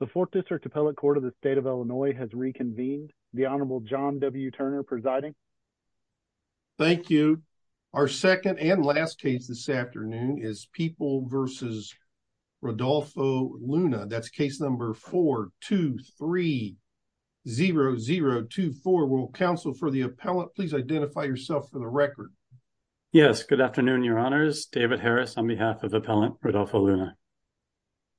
The Fourth District Appellate Court of the State of Illinois has reconvened. The Honorable John W. Turner presiding. Thank you. Our second and last case this afternoon is People v. Rodolfo Luna. That's case number 4-2-3-0-0-2-4. Will counsel for the appellant please identify yourself for the record. Yes. Good afternoon, Your Honors. David Harris on behalf of Appellant Rodolfo Luna.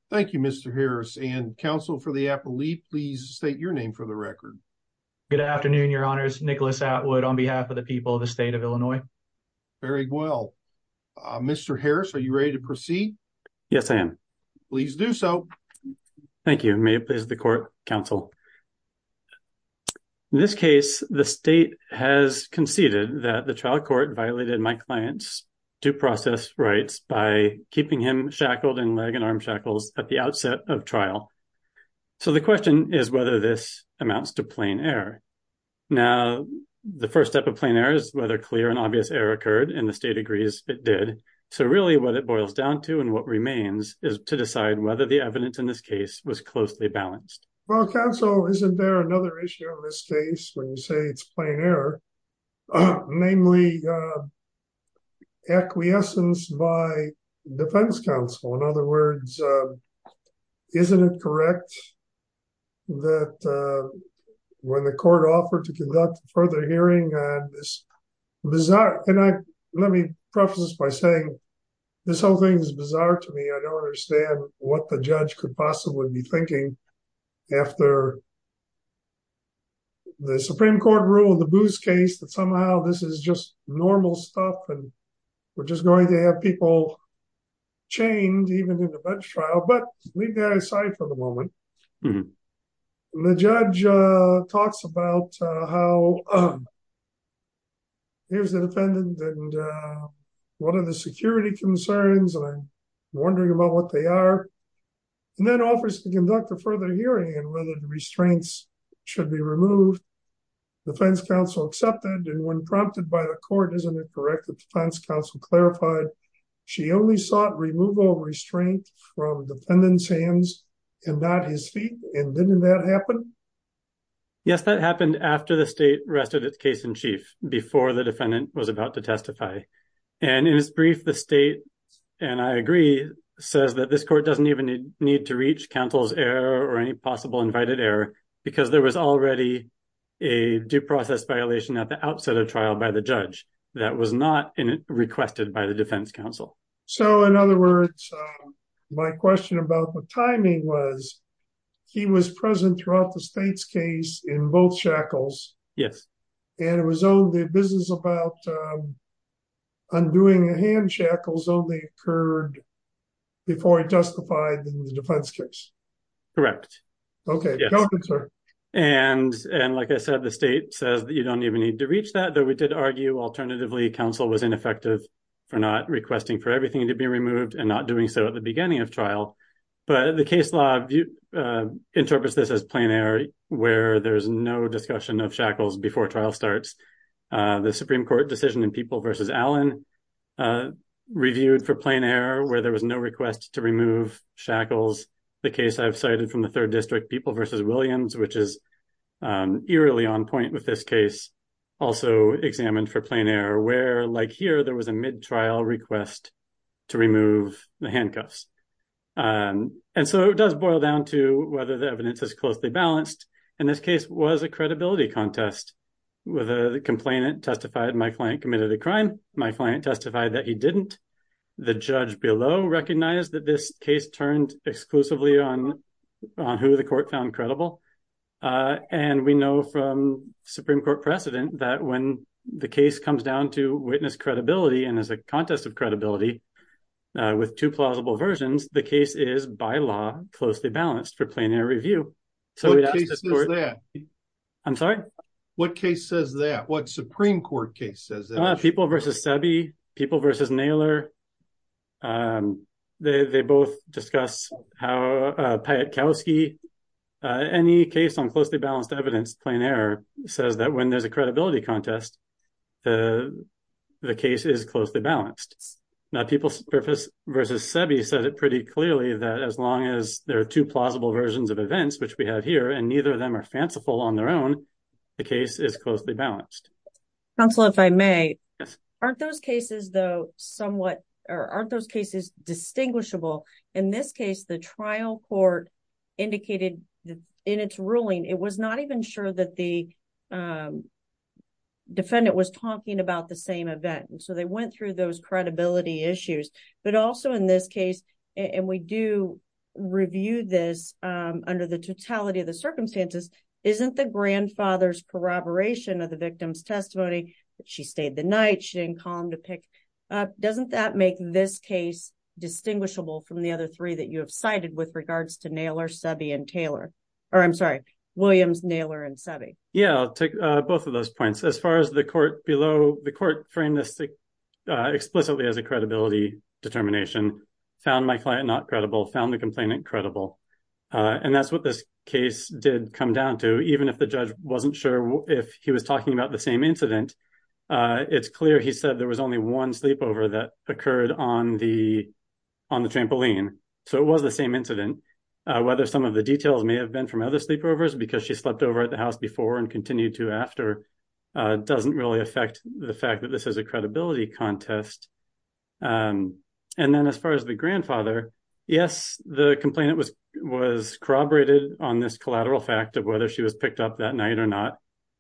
Thank you, Mr. Harris. And counsel for the appellate please state your name for the record. Good afternoon, Your Honors. Nicholas Atwood on behalf of the People of the State of Illinois. Very well. Mr. Harris, are you ready to proceed? Yes, I am. Please do so. Thank you. May it please the court, counsel. In this case, the state has conceded that the trial court violated my client's due process rights by keeping him shackled in leg and arm shackles at the outset of trial. So the question is whether this amounts to plain error. Now, the first step of plain error is whether clear and obvious error occurred and the state agrees it did. So really what it boils down to and what remains is to decide whether the evidence in this case was closely balanced. Well, counsel, isn't there another issue in this case when you say it's plain error, namely acquiescence by defense counsel? In other words, isn't it correct that when the court offered to conduct a further hearing on this bizarre, and let me preface this by saying this whole thing is bizarre to me. I don't understand what the judge could possibly be thinking after the Supreme Court rule in the Booth case that somehow this is just normal stuff and we're just going to have people chained even in the bench trial. But leave that aside for the moment. The judge talks about how here's the defendant and what are the security concerns and I'm wondering about what they are. And then offers to conduct a further hearing and whether the restraints should be removed. Defense counsel accepted and when prompted by the court, isn't it correct that defense counsel clarified she only sought removal of restraint from the defendant's hands and not his feet? And didn't that happen? Yes, that happened after the state rested its case in chief, before the defendant was about to testify. And in his brief, the state, and I agree, says that this court doesn't even need to reach counsel's error or any possible invited error because there was already a due process violation at the outset of trial by the judge that was not requested by the defense counsel. So in other words, my question about the timing was he was present throughout the state's case in both shackles. Yes. And it was only a business about undoing the hand shackles only occurred before he testified in the defense case. Correct. Okay. And like I said, the state says that you don't even need to reach that, though we did argue alternatively counsel was ineffective for not requesting for everything to be removed and not doing so at the beginning of trial. But the case law interprets this as plain error where there's no discussion of shackles before trial starts. The Supreme Court decision in People v. Allen reviewed for plain error where there was no request to remove shackles. The case I've cited from the third district, People v. Williams, which is eerily on point with this case, also examined for plain error where like here there was a trial request to remove the handcuffs. And so it does boil down to whether the evidence is closely balanced. And this case was a credibility contest with a complainant testified my client committed a crime. My client testified that he didn't. The judge below recognized that this case turned exclusively on who the court found credible. And we know from Supreme Court precedent that when the case comes down to witness credibility and as a contest of credibility with two plausible versions, the case is by law closely balanced for plain air review. I'm sorry. What case says that? What Supreme Court case says that? People v. Sebi, People v. Naylor. They both discuss how Payette-Kowalski, any case on closely contest, the case is closely balanced. Now, People v. Sebi said it pretty clearly that as long as there are two plausible versions of events, which we have here, and neither of them are fanciful on their own, the case is closely balanced. Counselor, if I may. Yes. Aren't those cases distinguishable? In this case, the trial court indicated in its ruling, it was not even sure that the defendant was talking about the same event. And so they went through those credibility issues. But also in this case, and we do review this under the totality of the circumstances, isn't the grandfather's corroboration of the victim's testimony that she stayed the night, she didn't call him to pick up, doesn't that make this case distinguishable from the other three you have cited with regards to Williams, Naylor, and Sebi? Yeah, I'll take both of those points. As far as the court below, the court framed this explicitly as a credibility determination, found my client not credible, found the complainant credible. And that's what this case did come down to. Even if the judge wasn't sure if he was talking about the same incident, it's clear he said there was only one sleepover that occurred on the trampoline. So it was the same incident. Whether some of the details may have been from other sleepovers because she slept over at the house before and continued to after doesn't really affect the fact that this is a credibility contest. And then as far as the grandfather, yes, the complainant was corroborated on this collateral fact of whether she was picked up that night or not.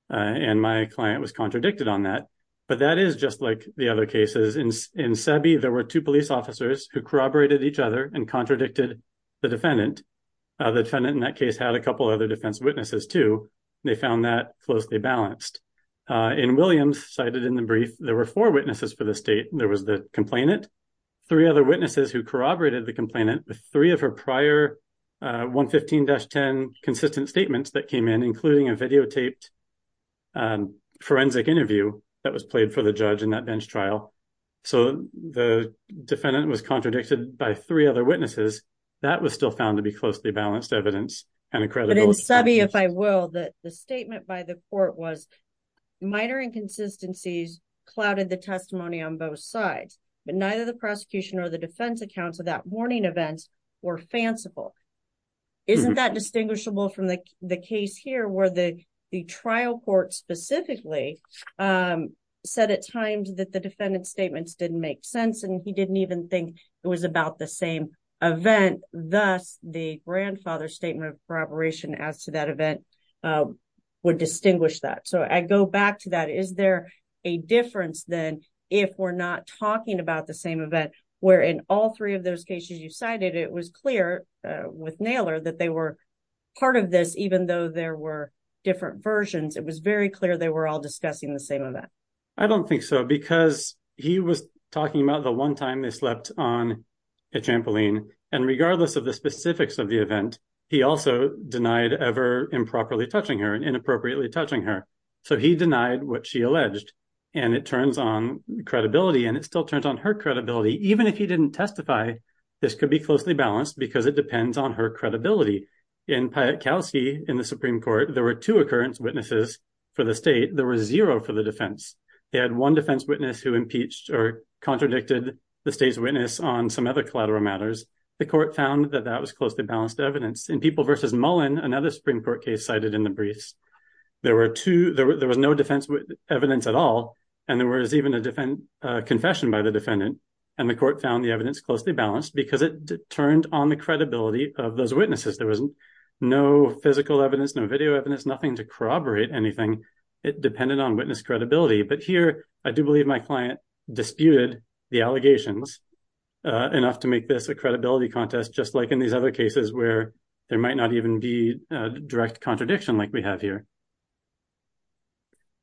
And my client was contradicted on that. But that is just like the other cases. In Sebi, there were two police officers who corroborated each other and contradicted the defendant. The defendant in that case had a couple other defense witnesses too. They found that closely balanced. In Williams, cited in the brief, there were four witnesses for the state. There was the complainant, three other witnesses who corroborated the complainant with three of her prior 115-10 consistent statements that came in, including a videotaped forensic interview that was played for the judge in that bench trial. So the defendant was contradicted by three other witnesses. That was still found to be closely balanced evidence and a credibility contest. But in Sebi, if I will, the statement by the court was minor inconsistencies clouded the testimony on both sides, but neither the prosecution or the defense accounts of that morning events were fanciful. Isn't that distinguishable from the case here where the trial court specifically said at times that the defendant's statements didn't make sense and he didn't even think it was about the same event? Thus, the grandfather's statement of corroboration as to that event would distinguish that. So I go back to that. Is there a difference then if we're not talking about the same event where in all three of those cases you were part of this, even though there were different versions, it was very clear they were all discussing the same event? I don't think so because he was talking about the one time they slept on a trampoline and regardless of the specifics of the event, he also denied ever improperly touching her and inappropriately touching her. So he denied what she alleged and it turns on credibility and it still turns on her credibility. Even if he didn't testify, this could be closely balanced because it depends on her credibility. In Piotrkowski, in the Supreme Court, there were two occurrence witnesses for the state. There was zero for the defense. They had one defense witness who impeached or contradicted the state's witness on some other collateral matters. The court found that that was closely balanced evidence. In People vs. Mullen, another Supreme Court case cited in the briefs, there was no defense evidence at all and there was even a confession by the defendant and the court found the evidence closely balanced because it turned on the credibility of those witnesses. There was no physical evidence, no video evidence, nothing to corroborate anything. It depended on witness credibility, but here I do believe my client disputed the allegations enough to make this a credibility contest, just like in these other cases where there might not even be a direct contradiction like we have here.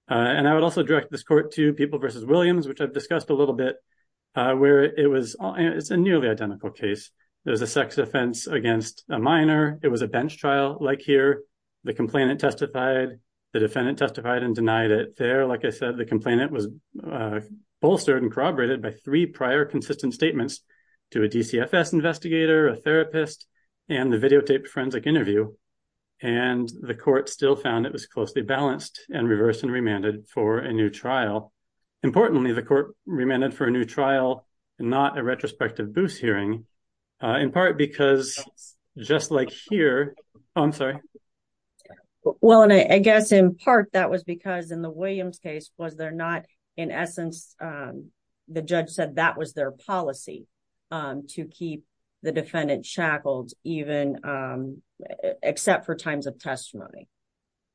I would also direct this court to People vs. Williams, which I've discussed a it's a nearly identical case. There's a sex offense against a minor. It was a bench trial like here. The complainant testified. The defendant testified and denied it. There, like I said, the complainant was bolstered and corroborated by three prior consistent statements to a DCFS investigator, a therapist, and the videotaped forensic interview. The court still found it was closely balanced and reversed and remanded for a new trial. Importantly, the court remanded for a new trial, not a retrospective boost hearing in part because just like here, I'm sorry. Well, and I guess in part that was because in the Williams case was there not in essence, the judge said that was their policy to keep the defendant shackled even except for times of testimony.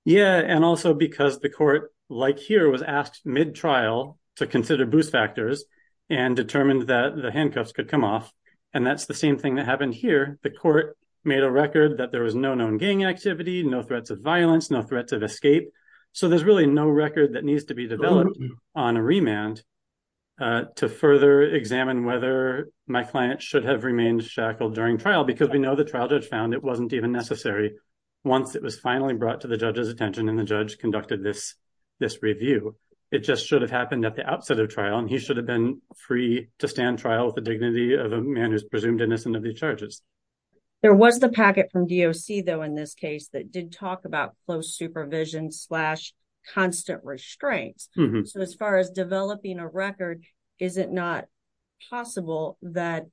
Yeah. And also because the court like here was asked mid trial to consider boost factors and determined that the handcuffs could come off. And that's the same thing that happened here. The court made a record that there was no known gang activity, no threats of violence, no threats of escape. So there's really no record that needs to be developed on a remand to further examine whether my client should have remained shackled during trial because we know the trial judge found it wasn't even necessary. Once it was finally brought to the judge's attention and the judge conducted this, this review, it just should have happened at the time. And he should have been free to stand trial with the dignity of a man who's presumed innocent of these charges. There was the packet from DOC though, in this case that did talk about close supervision slash constant restraints. So as far as developing a record, is it not possible that,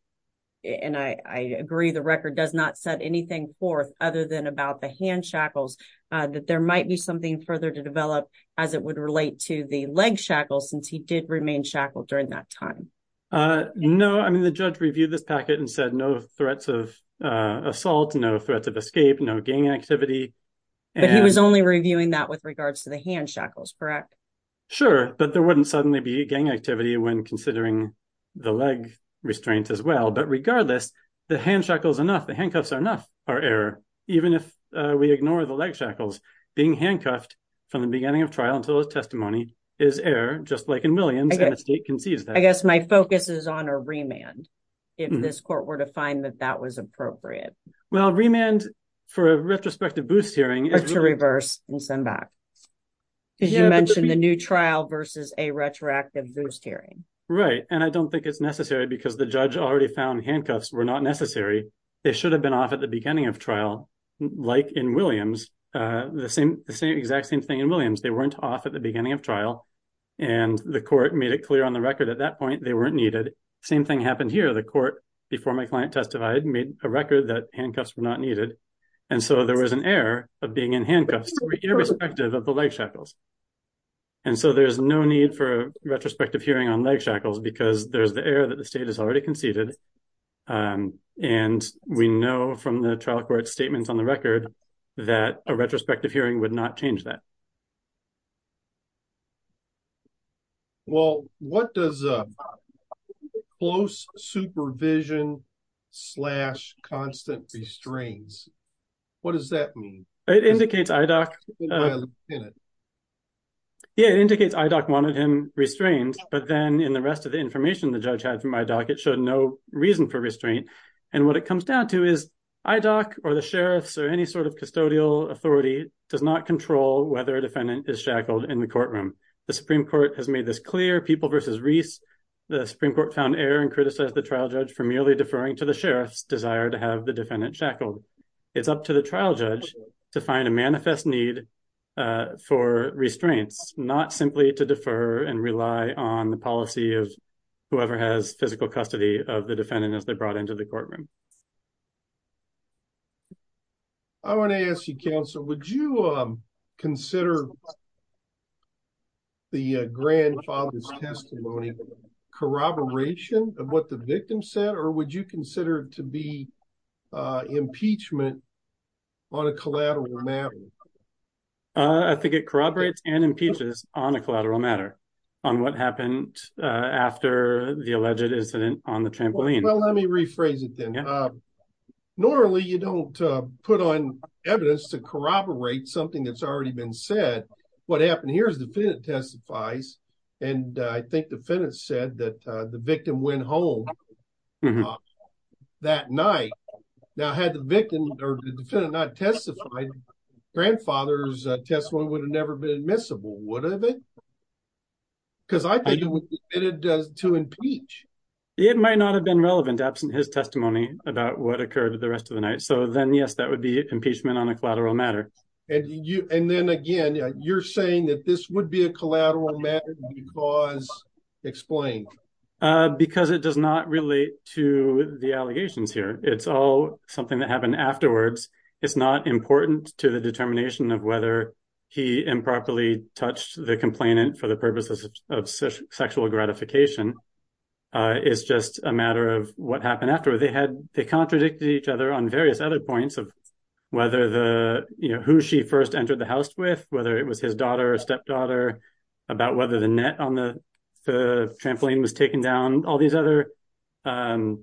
and I agree, the record does not set anything forth other than about the hand shackles that there might be something further to develop as it would relate to the leg shackles since he did remain shackled during that time? No, I mean, the judge reviewed this packet and said no threats of assault, no threats of escape, no gang activity. But he was only reviewing that with regards to the hand shackles, correct? Sure, but there wouldn't suddenly be gang activity when considering the leg restraints as well. But regardless, the hand shackles enough, the handcuffs are enough, are error. Even if we ignore the leg shackles, being handcuffed from the beginning of trial until his testimony is error, just like in Williams, and the state concedes that. I guess my focus is on a remand, if this court were to find that that was appropriate. Well, remand for a retrospective boost hearing is... Or to reverse and send back. Because you mentioned the new trial versus a retroactive boost hearing. Right, and I don't think it's necessary because the judge already found handcuffs were not necessary. They should weren't off at the beginning of trial, and the court made it clear on the record at that point they weren't needed. Same thing happened here. The court, before my client testified, made a record that handcuffs were not needed. And so there was an error of being in handcuffs irrespective of the leg shackles. And so there's no need for a retrospective hearing on leg shackles because there's the error that the state has already conceded. And we know from the trial court statements on the record that a retrospective hearing would not change that. Well, what does close supervision slash constant restraints, what does that mean? It indicates IDOC wanted him restrained, but then in the rest of the information the judge had from IDOC, it showed no reason for restraint. And what it comes down to is IDOC or the sheriffs or any sort of custodial authority does not control whether a defendant is shackled in the courtroom. The Supreme Court has made this clear. People v. Reese, the Supreme Court found error and criticized the trial judge for merely deferring to the sheriff's desire to have the defendant shackled. It's up to the trial judge to find a manifest need for restraints, not simply to defer and rely on the policy of whoever has physical custody of the defendant as they're I want to ask you, counsel, would you consider the grandfather's testimony corroboration of what the victim said or would you consider it to be impeachment on a collateral matter? I think it corroborates and impeaches on a collateral matter on what happened after the alleged incident on the trampoline. Well, let me rephrase it then. Normally you don't put on evidence to corroborate something that's already been said. What happened here is the defendant testifies and I think the defendant said that the victim went home that night. Now had the victim or the defendant not testified, grandfather's testimony would have never been admissible, would have it? Because I think it would be admitted to impeach. It might not have been relevant absent his testimony about what occurred the rest of the night. So then, yes, that would be impeachment on a collateral matter. And you and then again, you're saying that this would be a collateral matter because explain because it does not relate to the allegations here. It's all something that happened afterwards. It's not important to the determination of whether he improperly touched the complainant for the purposes of sexual gratification. It's just a matter of what happened after they had. They contradicted each other on various other points of whether the who she first entered the house with, whether it was his daughter or stepdaughter, about whether the net on the trampoline was taken down, all these other kind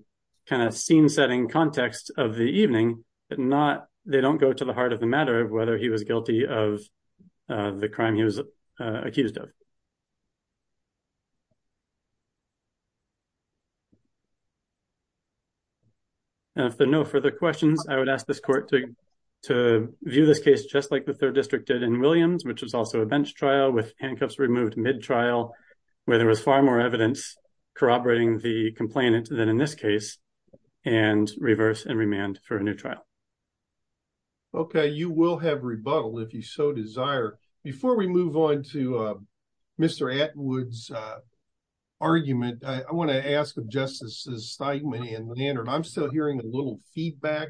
of scene setting context of the evening, but not they don't go to the heart of the matter whether he was guilty of the crime he was accused of. And if there are no further questions, I would ask this court to view this case, just like the third district did in Williams, which was also a bench trial with handcuffs removed mid trial, where there was far more evidence corroborating the complainant than in this case, and reverse and remand for a new trial. Okay, you will have rebuttal if you so desire. Before we move on to Mr. Atwood's argument, I want to ask of Justices Steinman and Leonard, I'm still hearing a little feedback.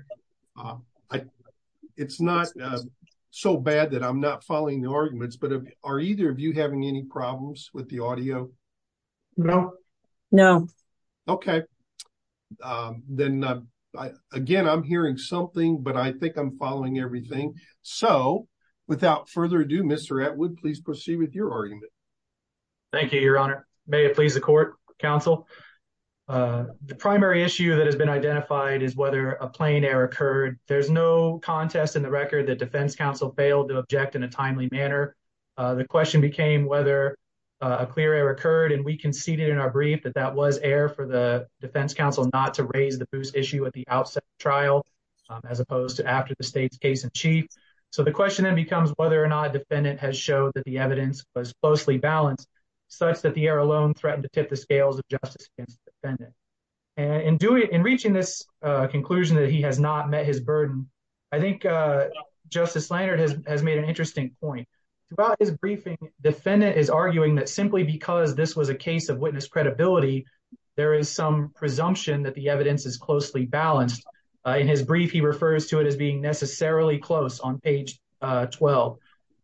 It's not so bad that I'm not following the arguments, but are either of you having any feedback? Then, again, I'm hearing something, but I think I'm following everything. So without further ado, Mr. Atwood, please proceed with your argument. Thank you, Your Honor. May it please the court, counsel. The primary issue that has been identified is whether a plain error occurred. There's no contest in the record that Defense Counsel failed to object in a timely manner. The question became whether a clear error not to raise the boost issue at the outset of the trial, as opposed to after the state's case in chief. So the question then becomes whether or not a defendant has showed that the evidence was closely balanced, such that the error alone threatened to tip the scales of justice against the defendant. In reaching this conclusion that he has not met his burden, I think Justice Leonard has made an interesting point. Throughout his briefing, the defendant is arguing that simply because this was a case of witness credibility, there is some presumption that the evidence is closely balanced. In his brief, he refers to it as being necessarily close on page 12.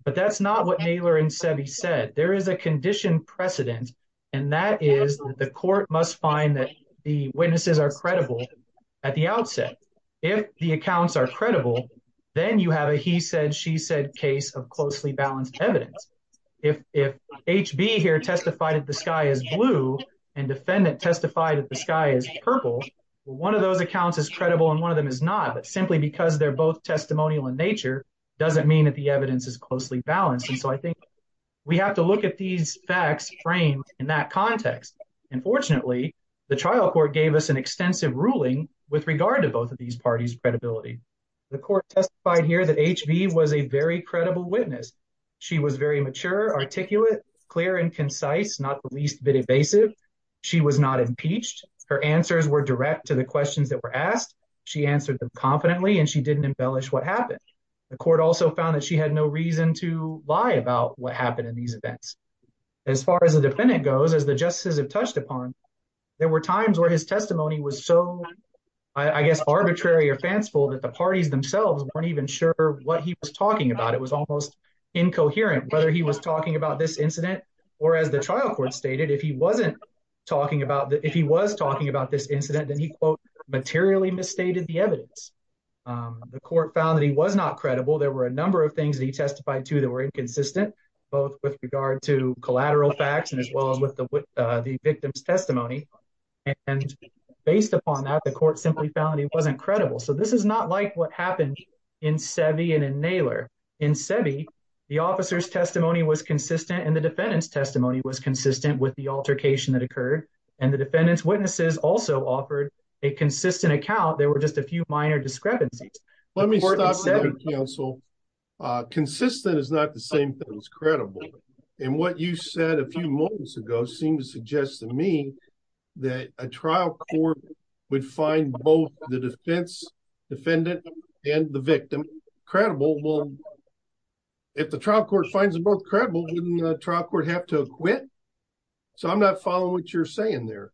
But that's not what Naylor and Seve said. There is a condition precedent, and that is the court must find that the witnesses are credible at the outset. If the accounts are evidence, if HB here testified that the sky is blue, and defendant testified that the sky is purple, one of those accounts is credible and one of them is not. But simply because they're both testimonial in nature doesn't mean that the evidence is closely balanced. And so I think we have to look at these facts framed in that context. And fortunately, the trial court gave us an extensive ruling with regard to both of these parties credibility. The court testified here that HB was a very credible witness. She was very mature, articulate, clear, and concise, not the least bit evasive. She was not impeached. Her answers were direct to the questions that were asked. She answered them confidently, and she didn't embellish what happened. The court also found that she had no reason to lie about what happened in these events. As far as the defendant goes, as the justices have touched upon, there were times where his what he was talking about, it was almost incoherent, whether he was talking about this incident, or as the trial court stated, if he wasn't talking about that, if he was talking about this incident, then he quote, materially misstated the evidence. The court found that he was not credible. There were a number of things that he testified to that were inconsistent, both with regard to collateral facts as well as with the victim's testimony. And based upon that, the court simply found he wasn't credible. So this is not like what happened in Seve and in Naylor. In Seve, the officer's testimony was consistent, and the defendant's testimony was consistent with the altercation that occurred. And the defendant's witnesses also offered a consistent account. There were just a few minor discrepancies. Let me stop there, counsel. Consistent is not the same thing as credible. And what you said a few moments ago seemed to suggest to me that a trial court would find both the defense defendant and the victim credible. Well, if the trial court finds them both credible, wouldn't the trial court have to acquit? So I'm not following what you're saying there.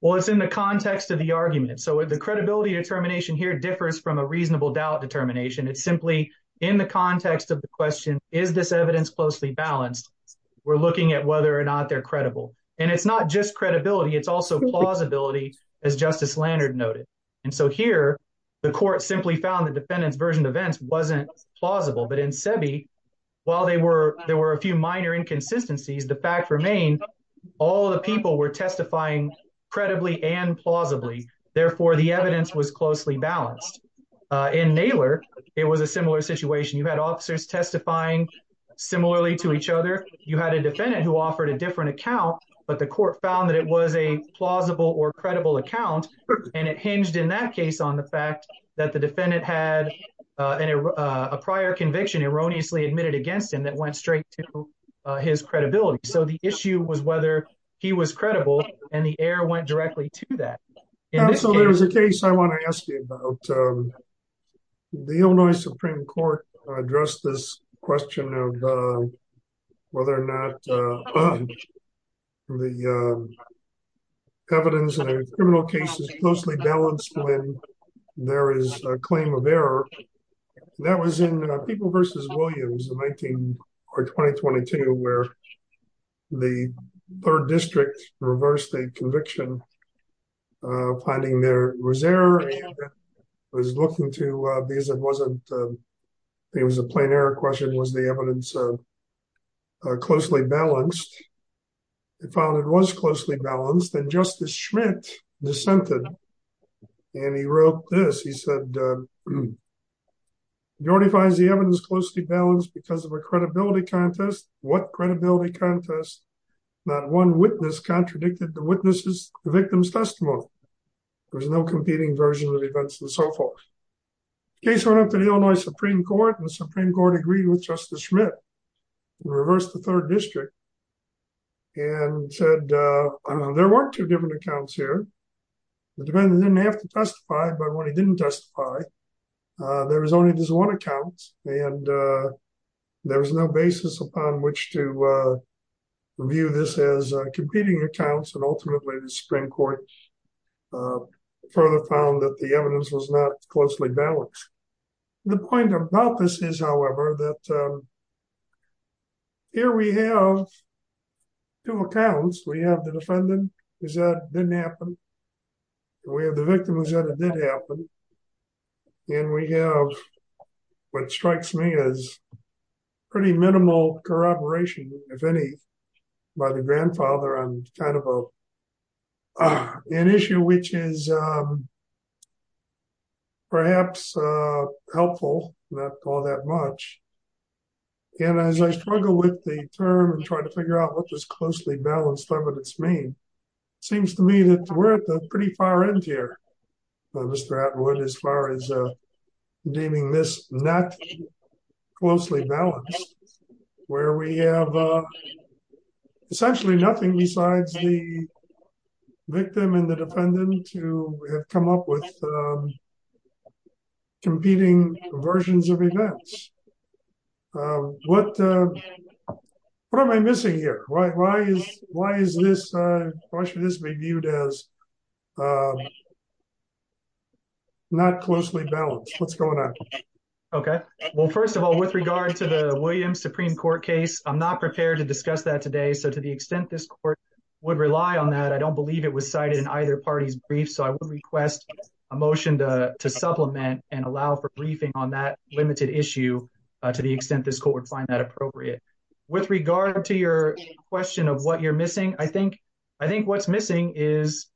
Well, it's in the context of the argument. So the credibility determination here differs from a reasonable doubt determination. It's simply in the context of the question, is this evidence closely balanced? We're looking at whether or not they're credible. And it's not just credibility, it's also plausibility, as Justice Lanard noted. And so here, the court simply found the defendant's version of events wasn't plausible. But in Seve, while there were a few minor inconsistencies, the fact remained, all the people were testifying credibly and plausibly. Therefore, the evidence was closely balanced. In Naylor, it was a similar situation. You had officers testifying similarly to each other, you had a defendant who offered a different account, but the court found that it was a plausible or credible account. And it hinged in that case on the fact that the defendant had a prior conviction erroneously admitted against him that went straight to his credibility. So the issue was whether he was credible, and the error went directly to that. So there's a case I want to ask you about. The Illinois Supreme Court addressed this question of whether or not the evidence in a criminal case is closely balanced when there is a claim of error. That was in People v. Williams in 19 or 2022, where the third district reversed a conviction, finding there was error, and was looking to, because it wasn't, it was a plain error question, was the evidence closely balanced? They found it was closely balanced, and Justice Schmitt dissented. And he wrote this, he said, your defies the evidence closely balanced because of a credibility contest. What credibility contest? Not one witness contradicted the witness's, the victim's testimony. There was no competing version of the events and so forth. Case went up to the Illinois Supreme Court, and the Supreme Court agreed with Justice Schmitt, and reversed the third district, and said, there weren't two different accounts here. The defendant didn't have to testify, but when he didn't testify, there was only this one account, and there was no basis upon which to view this as competing accounts. And ultimately, the Supreme Court further found that the evidence was not closely balanced. The point about this is, however, that here we have two accounts. We have the defendant, who said it didn't happen. We have the victim, who said it did happen. And we have what strikes me as pretty minimal corroboration, if any, by the grandfather on kind of an issue, which is perhaps helpful, not all that much. And as I struggle with the term and try to figure out what this closely balanced evidence means, it seems to me that we're at the pretty far end here, by Mr. Atwood, as far as naming this not closely balanced, where we have essentially nothing besides the victim and the defendant who have come up with competing versions of events. What am I missing here? Why should this be viewed as not closely balanced? What's going on? Okay. Well, first of all, with regard to the Williams Supreme Court case, I'm not prepared to discuss that today. So to the extent this court would rely on that, I don't believe it was cited in either party's brief. So I would request a motion to supplement and allow for briefing on that limited issue to the extent this court would find that appropriate. With regard to your question of what you're missing, I think what's missing is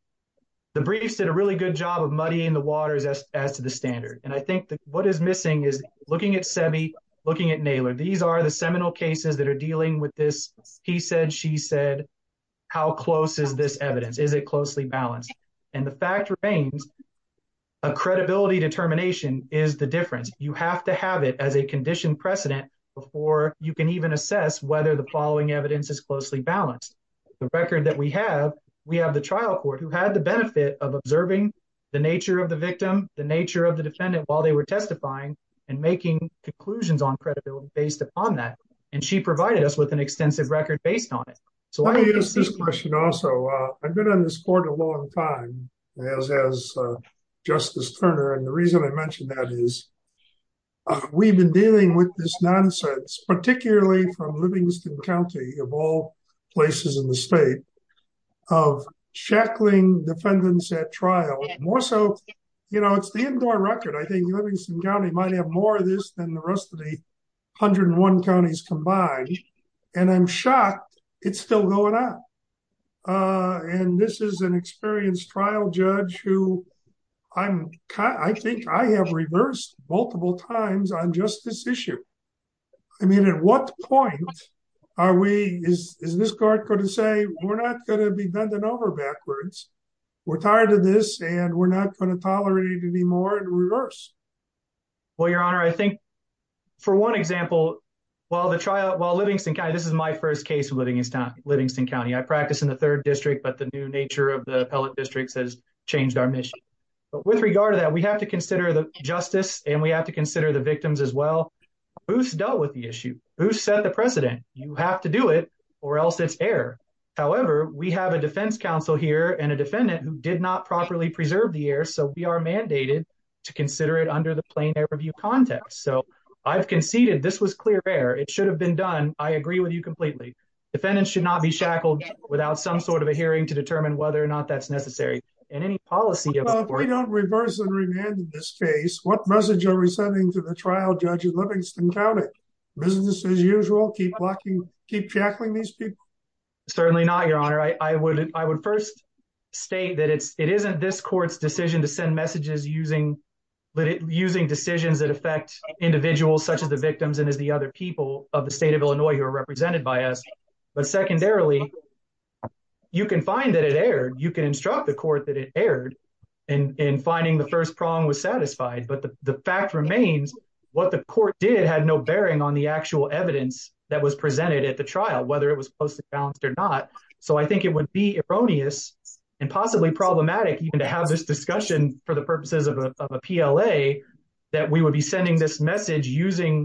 the briefs did a really good job of muddying the waters as to the standard. And I think what is missing is looking at Semmy, looking at Naylor. These are the seminal cases that are dealing with this, he said, she said, how close is this evidence? Is it closely balanced? And the fact remains, a credibility determination is the difference. You have to have it as a conditioned precedent before you can even assess whether the following evidence is closely balanced. The record that we have, we have the trial court who had the benefit of observing the nature of the victim, the nature of the defendant while they were testifying, and making conclusions on credibility based upon that. And she provided us with an extensive record based on it. So I guess this question also, I've been on this court a long time, as Justice Turner, and the reason I mentioned that is we've been dealing with this nonsense, particularly from Livingston County, of all places in the state, of shackling defendants at trial, more so, you know, it's the indoor record, I think Livingston County might have more of this than the rest of the 101 counties combined. And I'm shocked, it's still going on. And this is an experienced trial judge who I'm, I think I have reversed multiple times on just this issue. I mean, at what point are we, is this court going to say we're not going to be bending over backwards? We're tired of this and we're not going to tolerate it anymore in reverse? Well, Your Honor, I think for one example, while the trial, while Livingston County, this is my first case of Livingston County, I practice in the third district, but the new nature of the appellate districts has changed our mission. But with regard to that, we have to consider the justice and we have to consider the victims as well. Who's dealt with the issue? Who set the precedent? You have to do it or else it's air. However, we have a defense counsel here and a defendant who did not properly preserve the air, so we are mandated to consider it under the plain air review context. So I've conceded this was clear air. It should have been done. I agree with you completely. Defendants should not be shackled without some sort of a case. What message are we sending to the trial judge in Livingston County? Business as usual? Keep shackling these people? Certainly not, Your Honor. I would first state that it isn't this court's decision to send messages using decisions that affect individuals such as the victims and as the other people of the state of Illinois who are represented by us. But secondarily, you can find that it aired. You can instruct the court that it aired in finding the first prong was satisfied. But the fact remains what the court did had no bearing on the actual evidence that was presented at the trial, whether it was posted balanced or not. So I think it would be erroneous and possibly problematic even to have this discussion for the purposes of a PLA that we would be sending this message using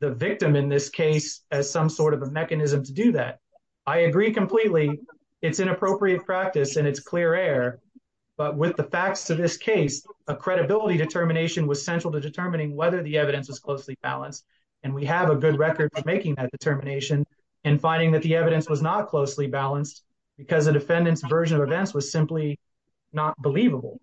the victim in this case as some sort of a mechanism to do that. I agree completely. It's inappropriate practice and it's clear air. But with the facts to this case, a credibility determination was central to determining whether the evidence was closely balanced. And we have a good record for making that determination and finding that the evidence was not closely balanced because the defendant's version of events was simply not believable.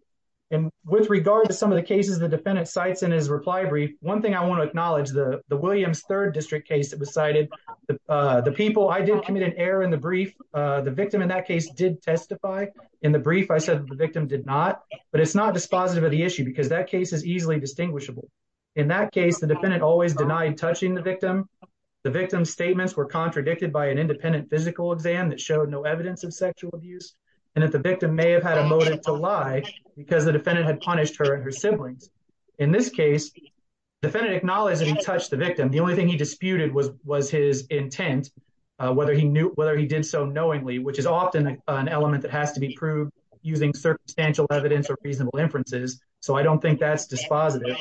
And with regard to some of the cases the defendant cites in his reply brief, one thing I want to acknowledge, the Williams Third District case that was cited, the people I did commit an error in the brief, the victim in that case did testify. In the brief, I said the victim did not, but it's not dispositive of the issue because that case is easily distinguishable. In that case, the defendant always denied touching the victim. The victim's statements were contradicted by an independent physical exam that showed no evidence of sexual abuse and that the victim may have had a motive to lie because the defendant had punished her and her siblings. In this case, the defendant acknowledged that he touched the victim. The only thing he disputed was his intent, whether he did so knowingly, which is often an element that has to be proved using circumstantial evidence or reasonable inferences. So I don't think that's dispositive.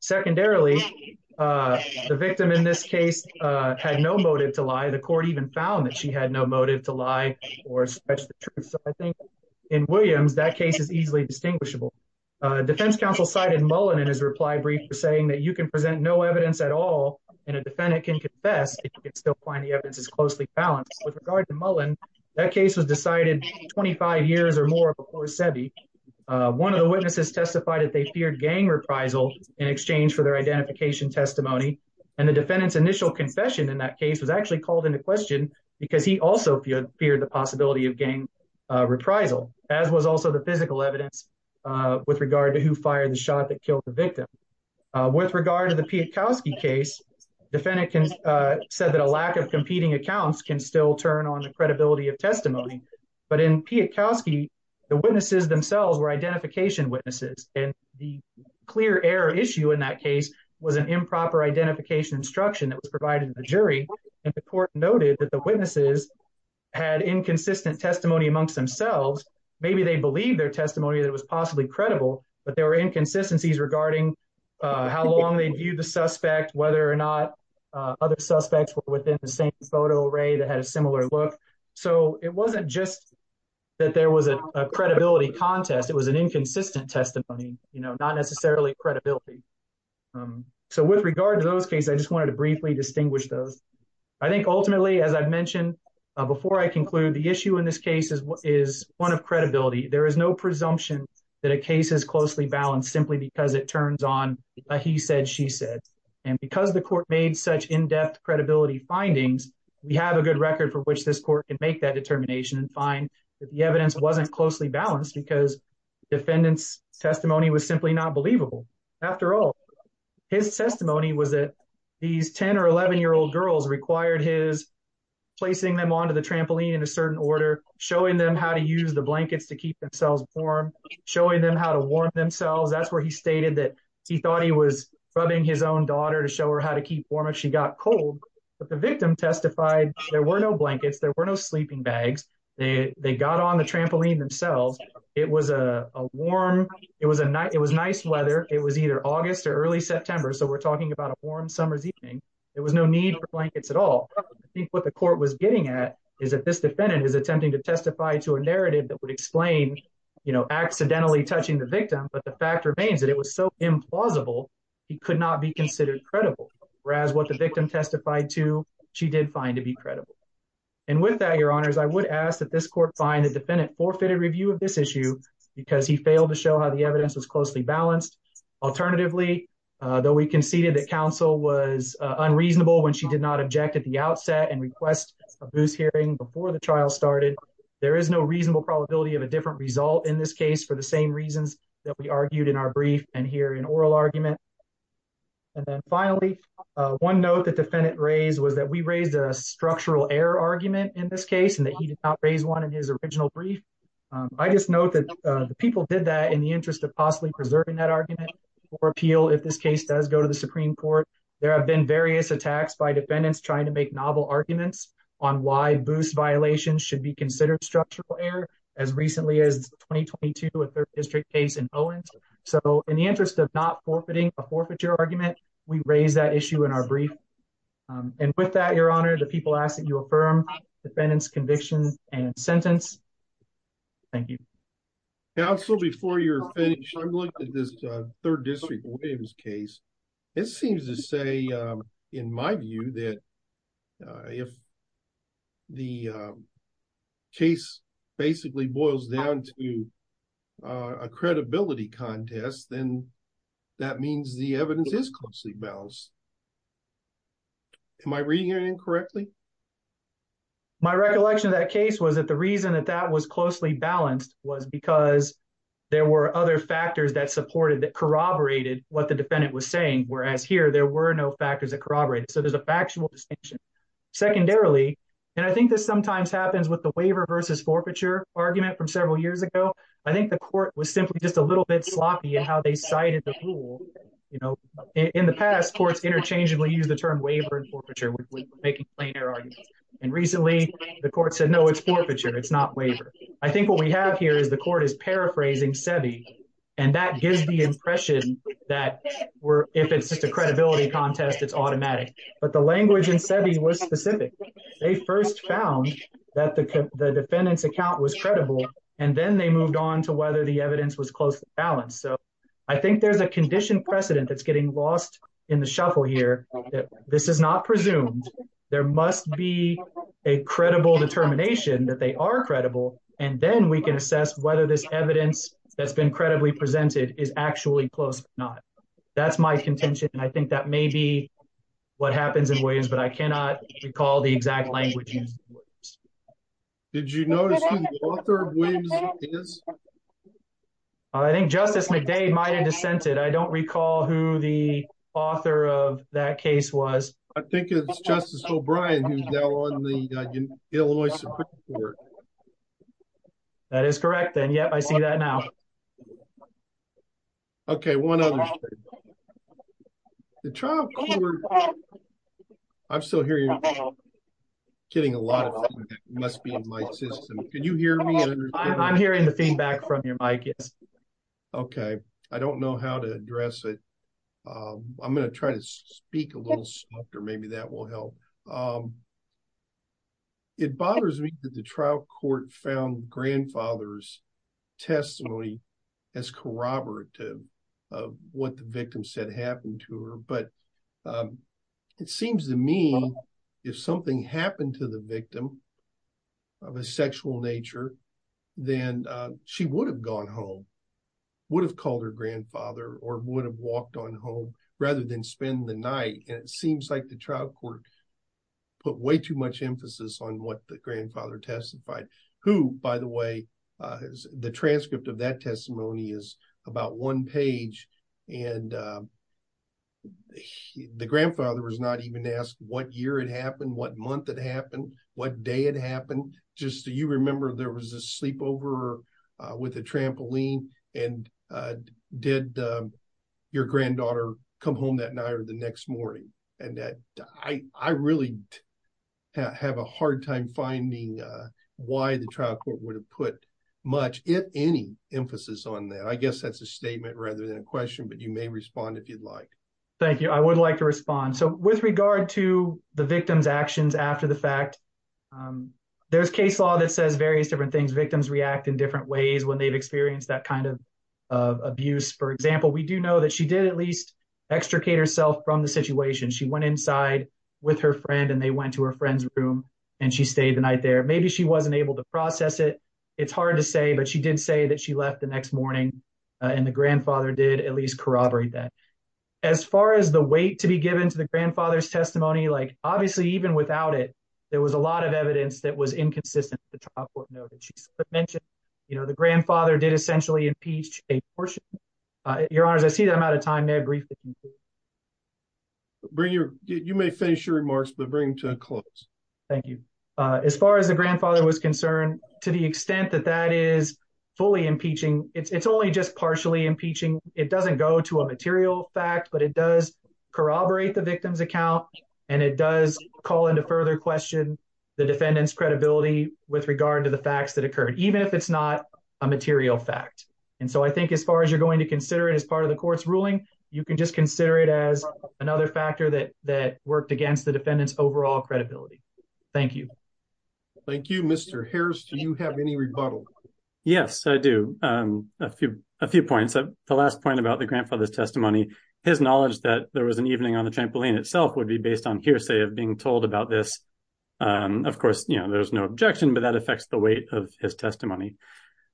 Secondarily, the victim in this case had no motive to lie. The court even found that she had no motive to lie or stretch the truth. So I think in Williams, that case is easily distinguishable. Defense counsel cited Mullen in his reply brief for saying that you can present no evidence at all and a defendant can confess if you can still the evidence is closely balanced. With regard to Mullen, that case was decided 25 years or more before Sebi. One of the witnesses testified that they feared gang reprisal in exchange for their identification testimony. And the defendant's initial confession in that case was actually called into question because he also feared the possibility of gang reprisal, as was also the physical evidence with regard to who fired the shot that killed the victim. With regard to the competing accounts can still turn on the credibility of testimony. But in Piatkowski, the witnesses themselves were identification witnesses. And the clear error issue in that case was an improper identification instruction that was provided to the jury. And the court noted that the witnesses had inconsistent testimony amongst themselves. Maybe they believed their testimony that was possibly credible, but there were inconsistencies regarding how long they viewed the suspect, whether or not other suspects were within the same photo array that had a similar look. So it wasn't just that there was a credibility contest. It was an inconsistent testimony, you know, not necessarily credibility. So with regard to those cases, I just wanted to briefly distinguish those. I think ultimately, as I've mentioned before, I conclude the issue in this case is one of credibility. There is no presumption that a case is closely balanced simply because it is. And because the court made such in depth credibility findings, we have a good record for which this court can make that determination and find that the evidence wasn't closely balanced because defendants testimony was simply not believable. After all, his testimony was that these 10 or 11 year old girls required his placing them onto the trampoline in a certain order, showing them how to use the blankets to keep themselves warm, showing them how to warm themselves. That's where he stated that he thought he was rubbing his own daughter to show her how to keep warm if she got cold. But the victim testified there were no blankets, there were no sleeping bags. They got on the trampoline themselves. It was a warm, it was a nice weather. It was either August or early September. So we're talking about a warm summer's evening. There was no need for blankets at all. I think what the court was getting at is that this defendant is attempting to testify to a narrative that would explain, you know, accidentally touching the victim. But the fact remains that it was so implausible he could not be considered credible, whereas what the victim testified to, she did find to be credible. And with that, your honors, I would ask that this court find the defendant forfeited review of this issue because he failed to show how the evidence was closely balanced. Alternatively, though we conceded that counsel was unreasonable when she did not object at the outset and request a booze hearing before the trial started. There is no reasonable probability of a different result in this case for the same reasons argued in our brief and here in oral argument. And then finally, one note that defendant raised was that we raised a structural error argument in this case and that he did not raise one in his original brief. I just note that the people did that in the interest of possibly preserving that argument for appeal. If this case does go to the Supreme Court, there have been various attacks by defendants trying to make novel arguments on why booze violations should be so in the interest of not forfeiting a forfeiture argument, we raise that issue in our brief. And with that, your honor, the people ask that you affirm defendant's convictions and sentence. Thank you. Counsel, before you're finished, I'm looking at this third district Williams case. It seems to say, in my view, that if the case basically boils down to a credibility contest, then that means the evidence is closely balanced. Am I reading it incorrectly? My recollection of that case was that the reason that that was closely balanced was because there were other factors that supported that corroborated what defendant was saying. Whereas here, there were no factors that corroborated. So there's a factual distinction. Secondarily, and I think this sometimes happens with the waiver versus forfeiture argument from several years ago. I think the court was simply just a little bit sloppy in how they cited the rule. In the past, courts interchangeably use the term waiver and forfeiture with making plainer arguments. And recently, the court said, no, it's forfeiture, it's not waiver. I think what we have here is the court is paraphrasing SEBI. And that gives the impression that if it's just a credibility contest, it's automatic. But the language in SEBI was specific. They first found that the defendant's account was credible, and then they moved on to whether the evidence was closely balanced. So I think there's a condition precedent that's getting lost in the shuffle here. This is not presumed. There must be a credible determination that they are credible. And then we can assess whether this evidence that's been credibly presented is actually close or not. That's my contention. And I think that may be what happens in Williams. But I cannot recall the exact language. Did you notice? I think Justice McDade might have dissented. I don't recall who the author of that case was. I think it's Justice O'Brien who's now on the Illinois Supreme Court. That is correct. And yeah, I see that now. Okay, one other thing. The trial court, I'm still hearing, getting a lot of feedback. It must be in my system. Can you hear me? I'm hearing the feedback from your mic, yes. Okay. I don't know how to address it. I'm going to try to speak a little softer. Maybe that will help. It bothers me that the trial court found grandfather's testimony as corroborative of what the victim said happened to her. But it seems to me, if something happened to the victim of a sexual nature, then she would have gone home, would have called her grandfather, or would have walked on home, rather than spend the night. And it seems like the trial court put way too much emphasis on what the grandfather testified. Who, by the way, the transcript of that testimony is about one page. And the grandfather was not even asked what year it happened, what month it happened, what day it happened. Just so you remember, there was a sleepover with a trampoline. And did your granddaughter come home that night or the next morning? And I really have a hard time finding why the trial court would have put much, if any, emphasis on that. I guess that's a statement rather than a question, but you may respond if you'd like. Thank you. I would like to respond. With regard to the victim's actions after the fact, there's case law that says various different things. Victims react in different ways when they've experienced that kind of abuse. For example, we do know that she did at least extricate herself from the situation. She went inside with her friend, and they went to her friend's room, and she stayed the night there. Maybe she wasn't able to process it. It's hard to say, but she did say that she left the next morning, and the grandfather did at least corroborate that. As far as the weight to be given to the grandfather's testimony, obviously, even without it, there was a lot of evidence that was inconsistent with the trial court note that she mentioned. The grandfather did essentially impeach a portion. Your Honors, I see that I'm out of time. May I briefly conclude? You may finish your remarks, but bring to a close. Thank you. As far as the grandfather was concerned, to the extent that that is fully impeaching, it's only just partially impeaching. It doesn't go to a material fact, but it does corroborate the victim's account, and it does call into further question the defendant's credibility with regard to the facts that occurred, even if it's not a material fact. I think as far as you're going to consider it as part of the court's ruling, you can just consider it as another factor that worked against the defendant's overall credibility. Thank you. Thank you, Mr. Harris. Do you have any rebuttal? Yes, I do. A few points. The last point about the grandfather's testimony, his knowledge that there was an evening on the trampoline itself would be based on hearsay of being told about this. Of course, there's no objection, but that affects the weight of his testimony.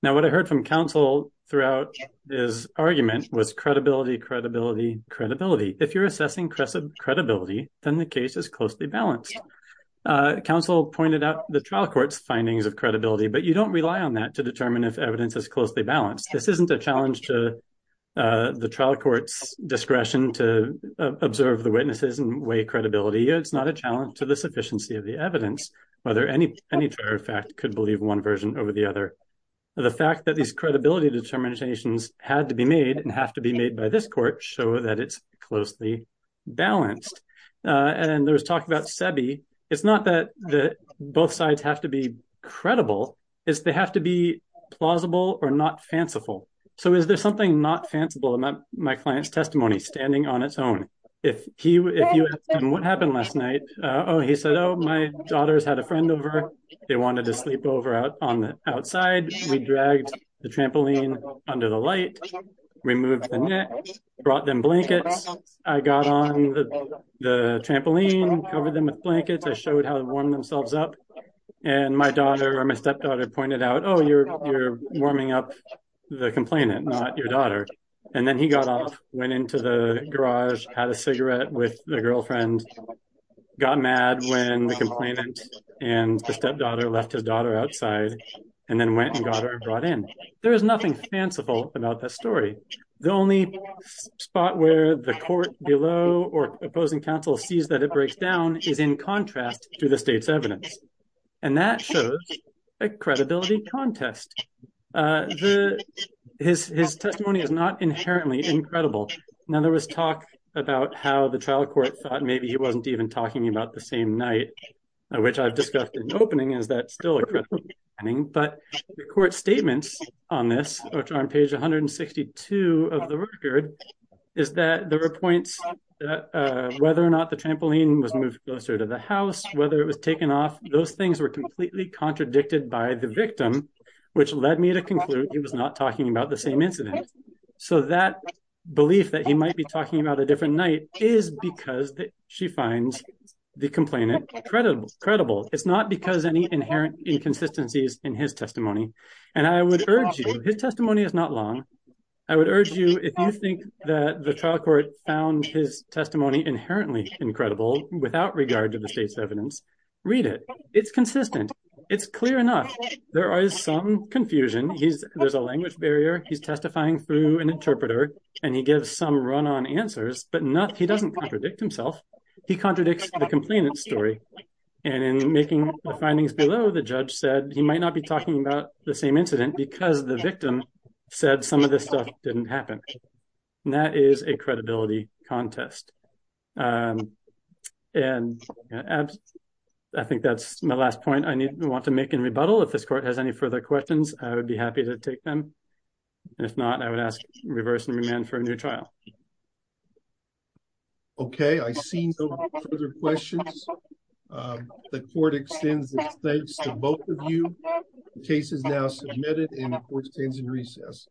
Now, what I heard from counsel throughout his argument was credibility, credibility, credibility. If you're assessing credibility, then the case is closely balanced. Counsel pointed out the trial court's findings of credibility, but you don't rely on that to determine if evidence is closely balanced. This isn't a challenge to the trial court's discretion to observe the witnesses and weigh credibility. It's not a challenge to the sufficiency of the evidence, whether any prior fact could believe one version over the other. The fact that these credibility determinations had to be made and have to be made by this court show that it's closely balanced. There was talk about SEBI. It's not that both sides have to be credible. It's they have to be plausible or not fanciful. Is there something not fanciful about my client's testimony standing on its own? If you ask him what happened last night, he said, my daughters had a friend over. They wanted to sleep over on the outside. We dragged the trampoline under the light, removed the net, brought them blankets. I got on the trampoline, covered them with blankets. I showed how to warm themselves up. My daughter or my stepdaughter pointed out, oh, you're warming up the complainant, not your daughter. Then he got off, went into the garage, had a cigarette with the girlfriend, got mad when the complainant and the stepdaughter left his daughter outside, and then went and got her brought in. There is nothing fanciful about that story. The only spot where the court below or opposing counsel sees that it breaks down is in contrast to the state's evidence, and that shows a credibility contest. His testimony is not inherently incredible. Now, there was talk about how the trial court thought maybe he wasn't even talking about the same night, which I've discussed in the opening, is that still a credible finding, but the court's statements on this, which are on page 162 of the record, is that there were points that whether or not the trampoline was moved closer to the house, whether it was taken off, those things were completely contradicted by the victim, which led me to conclude he was not talking about the same incident. So that belief that he might be talking about a different night is because she finds the complainant credible. It's not because of any inherent inconsistencies in his testimony, and I would urge you, his testimony is not long, I would urge you, if you think that the trial court found his testimony inherently incredible without regard to the state's evidence, read it. It's consistent. It's clear enough. There is some confusion. There's a language barrier. He's testifying through an interpreter and he gives some run-on answers, but he doesn't contradict himself. He contradicts the complainant's story, and in making the findings below, the judge said he might not be talking about the same incident because the victim said some of this stuff didn't happen. That is a credibility contest. And I think that's my last point I want to make in rebuttal. If this court has any further questions, I would be happy to take them. If not, I would ask reverse and remand for a new trial. Okay, I see no further questions. The court extends its thanks to both of you. The case is now submitted and the court stands in recess.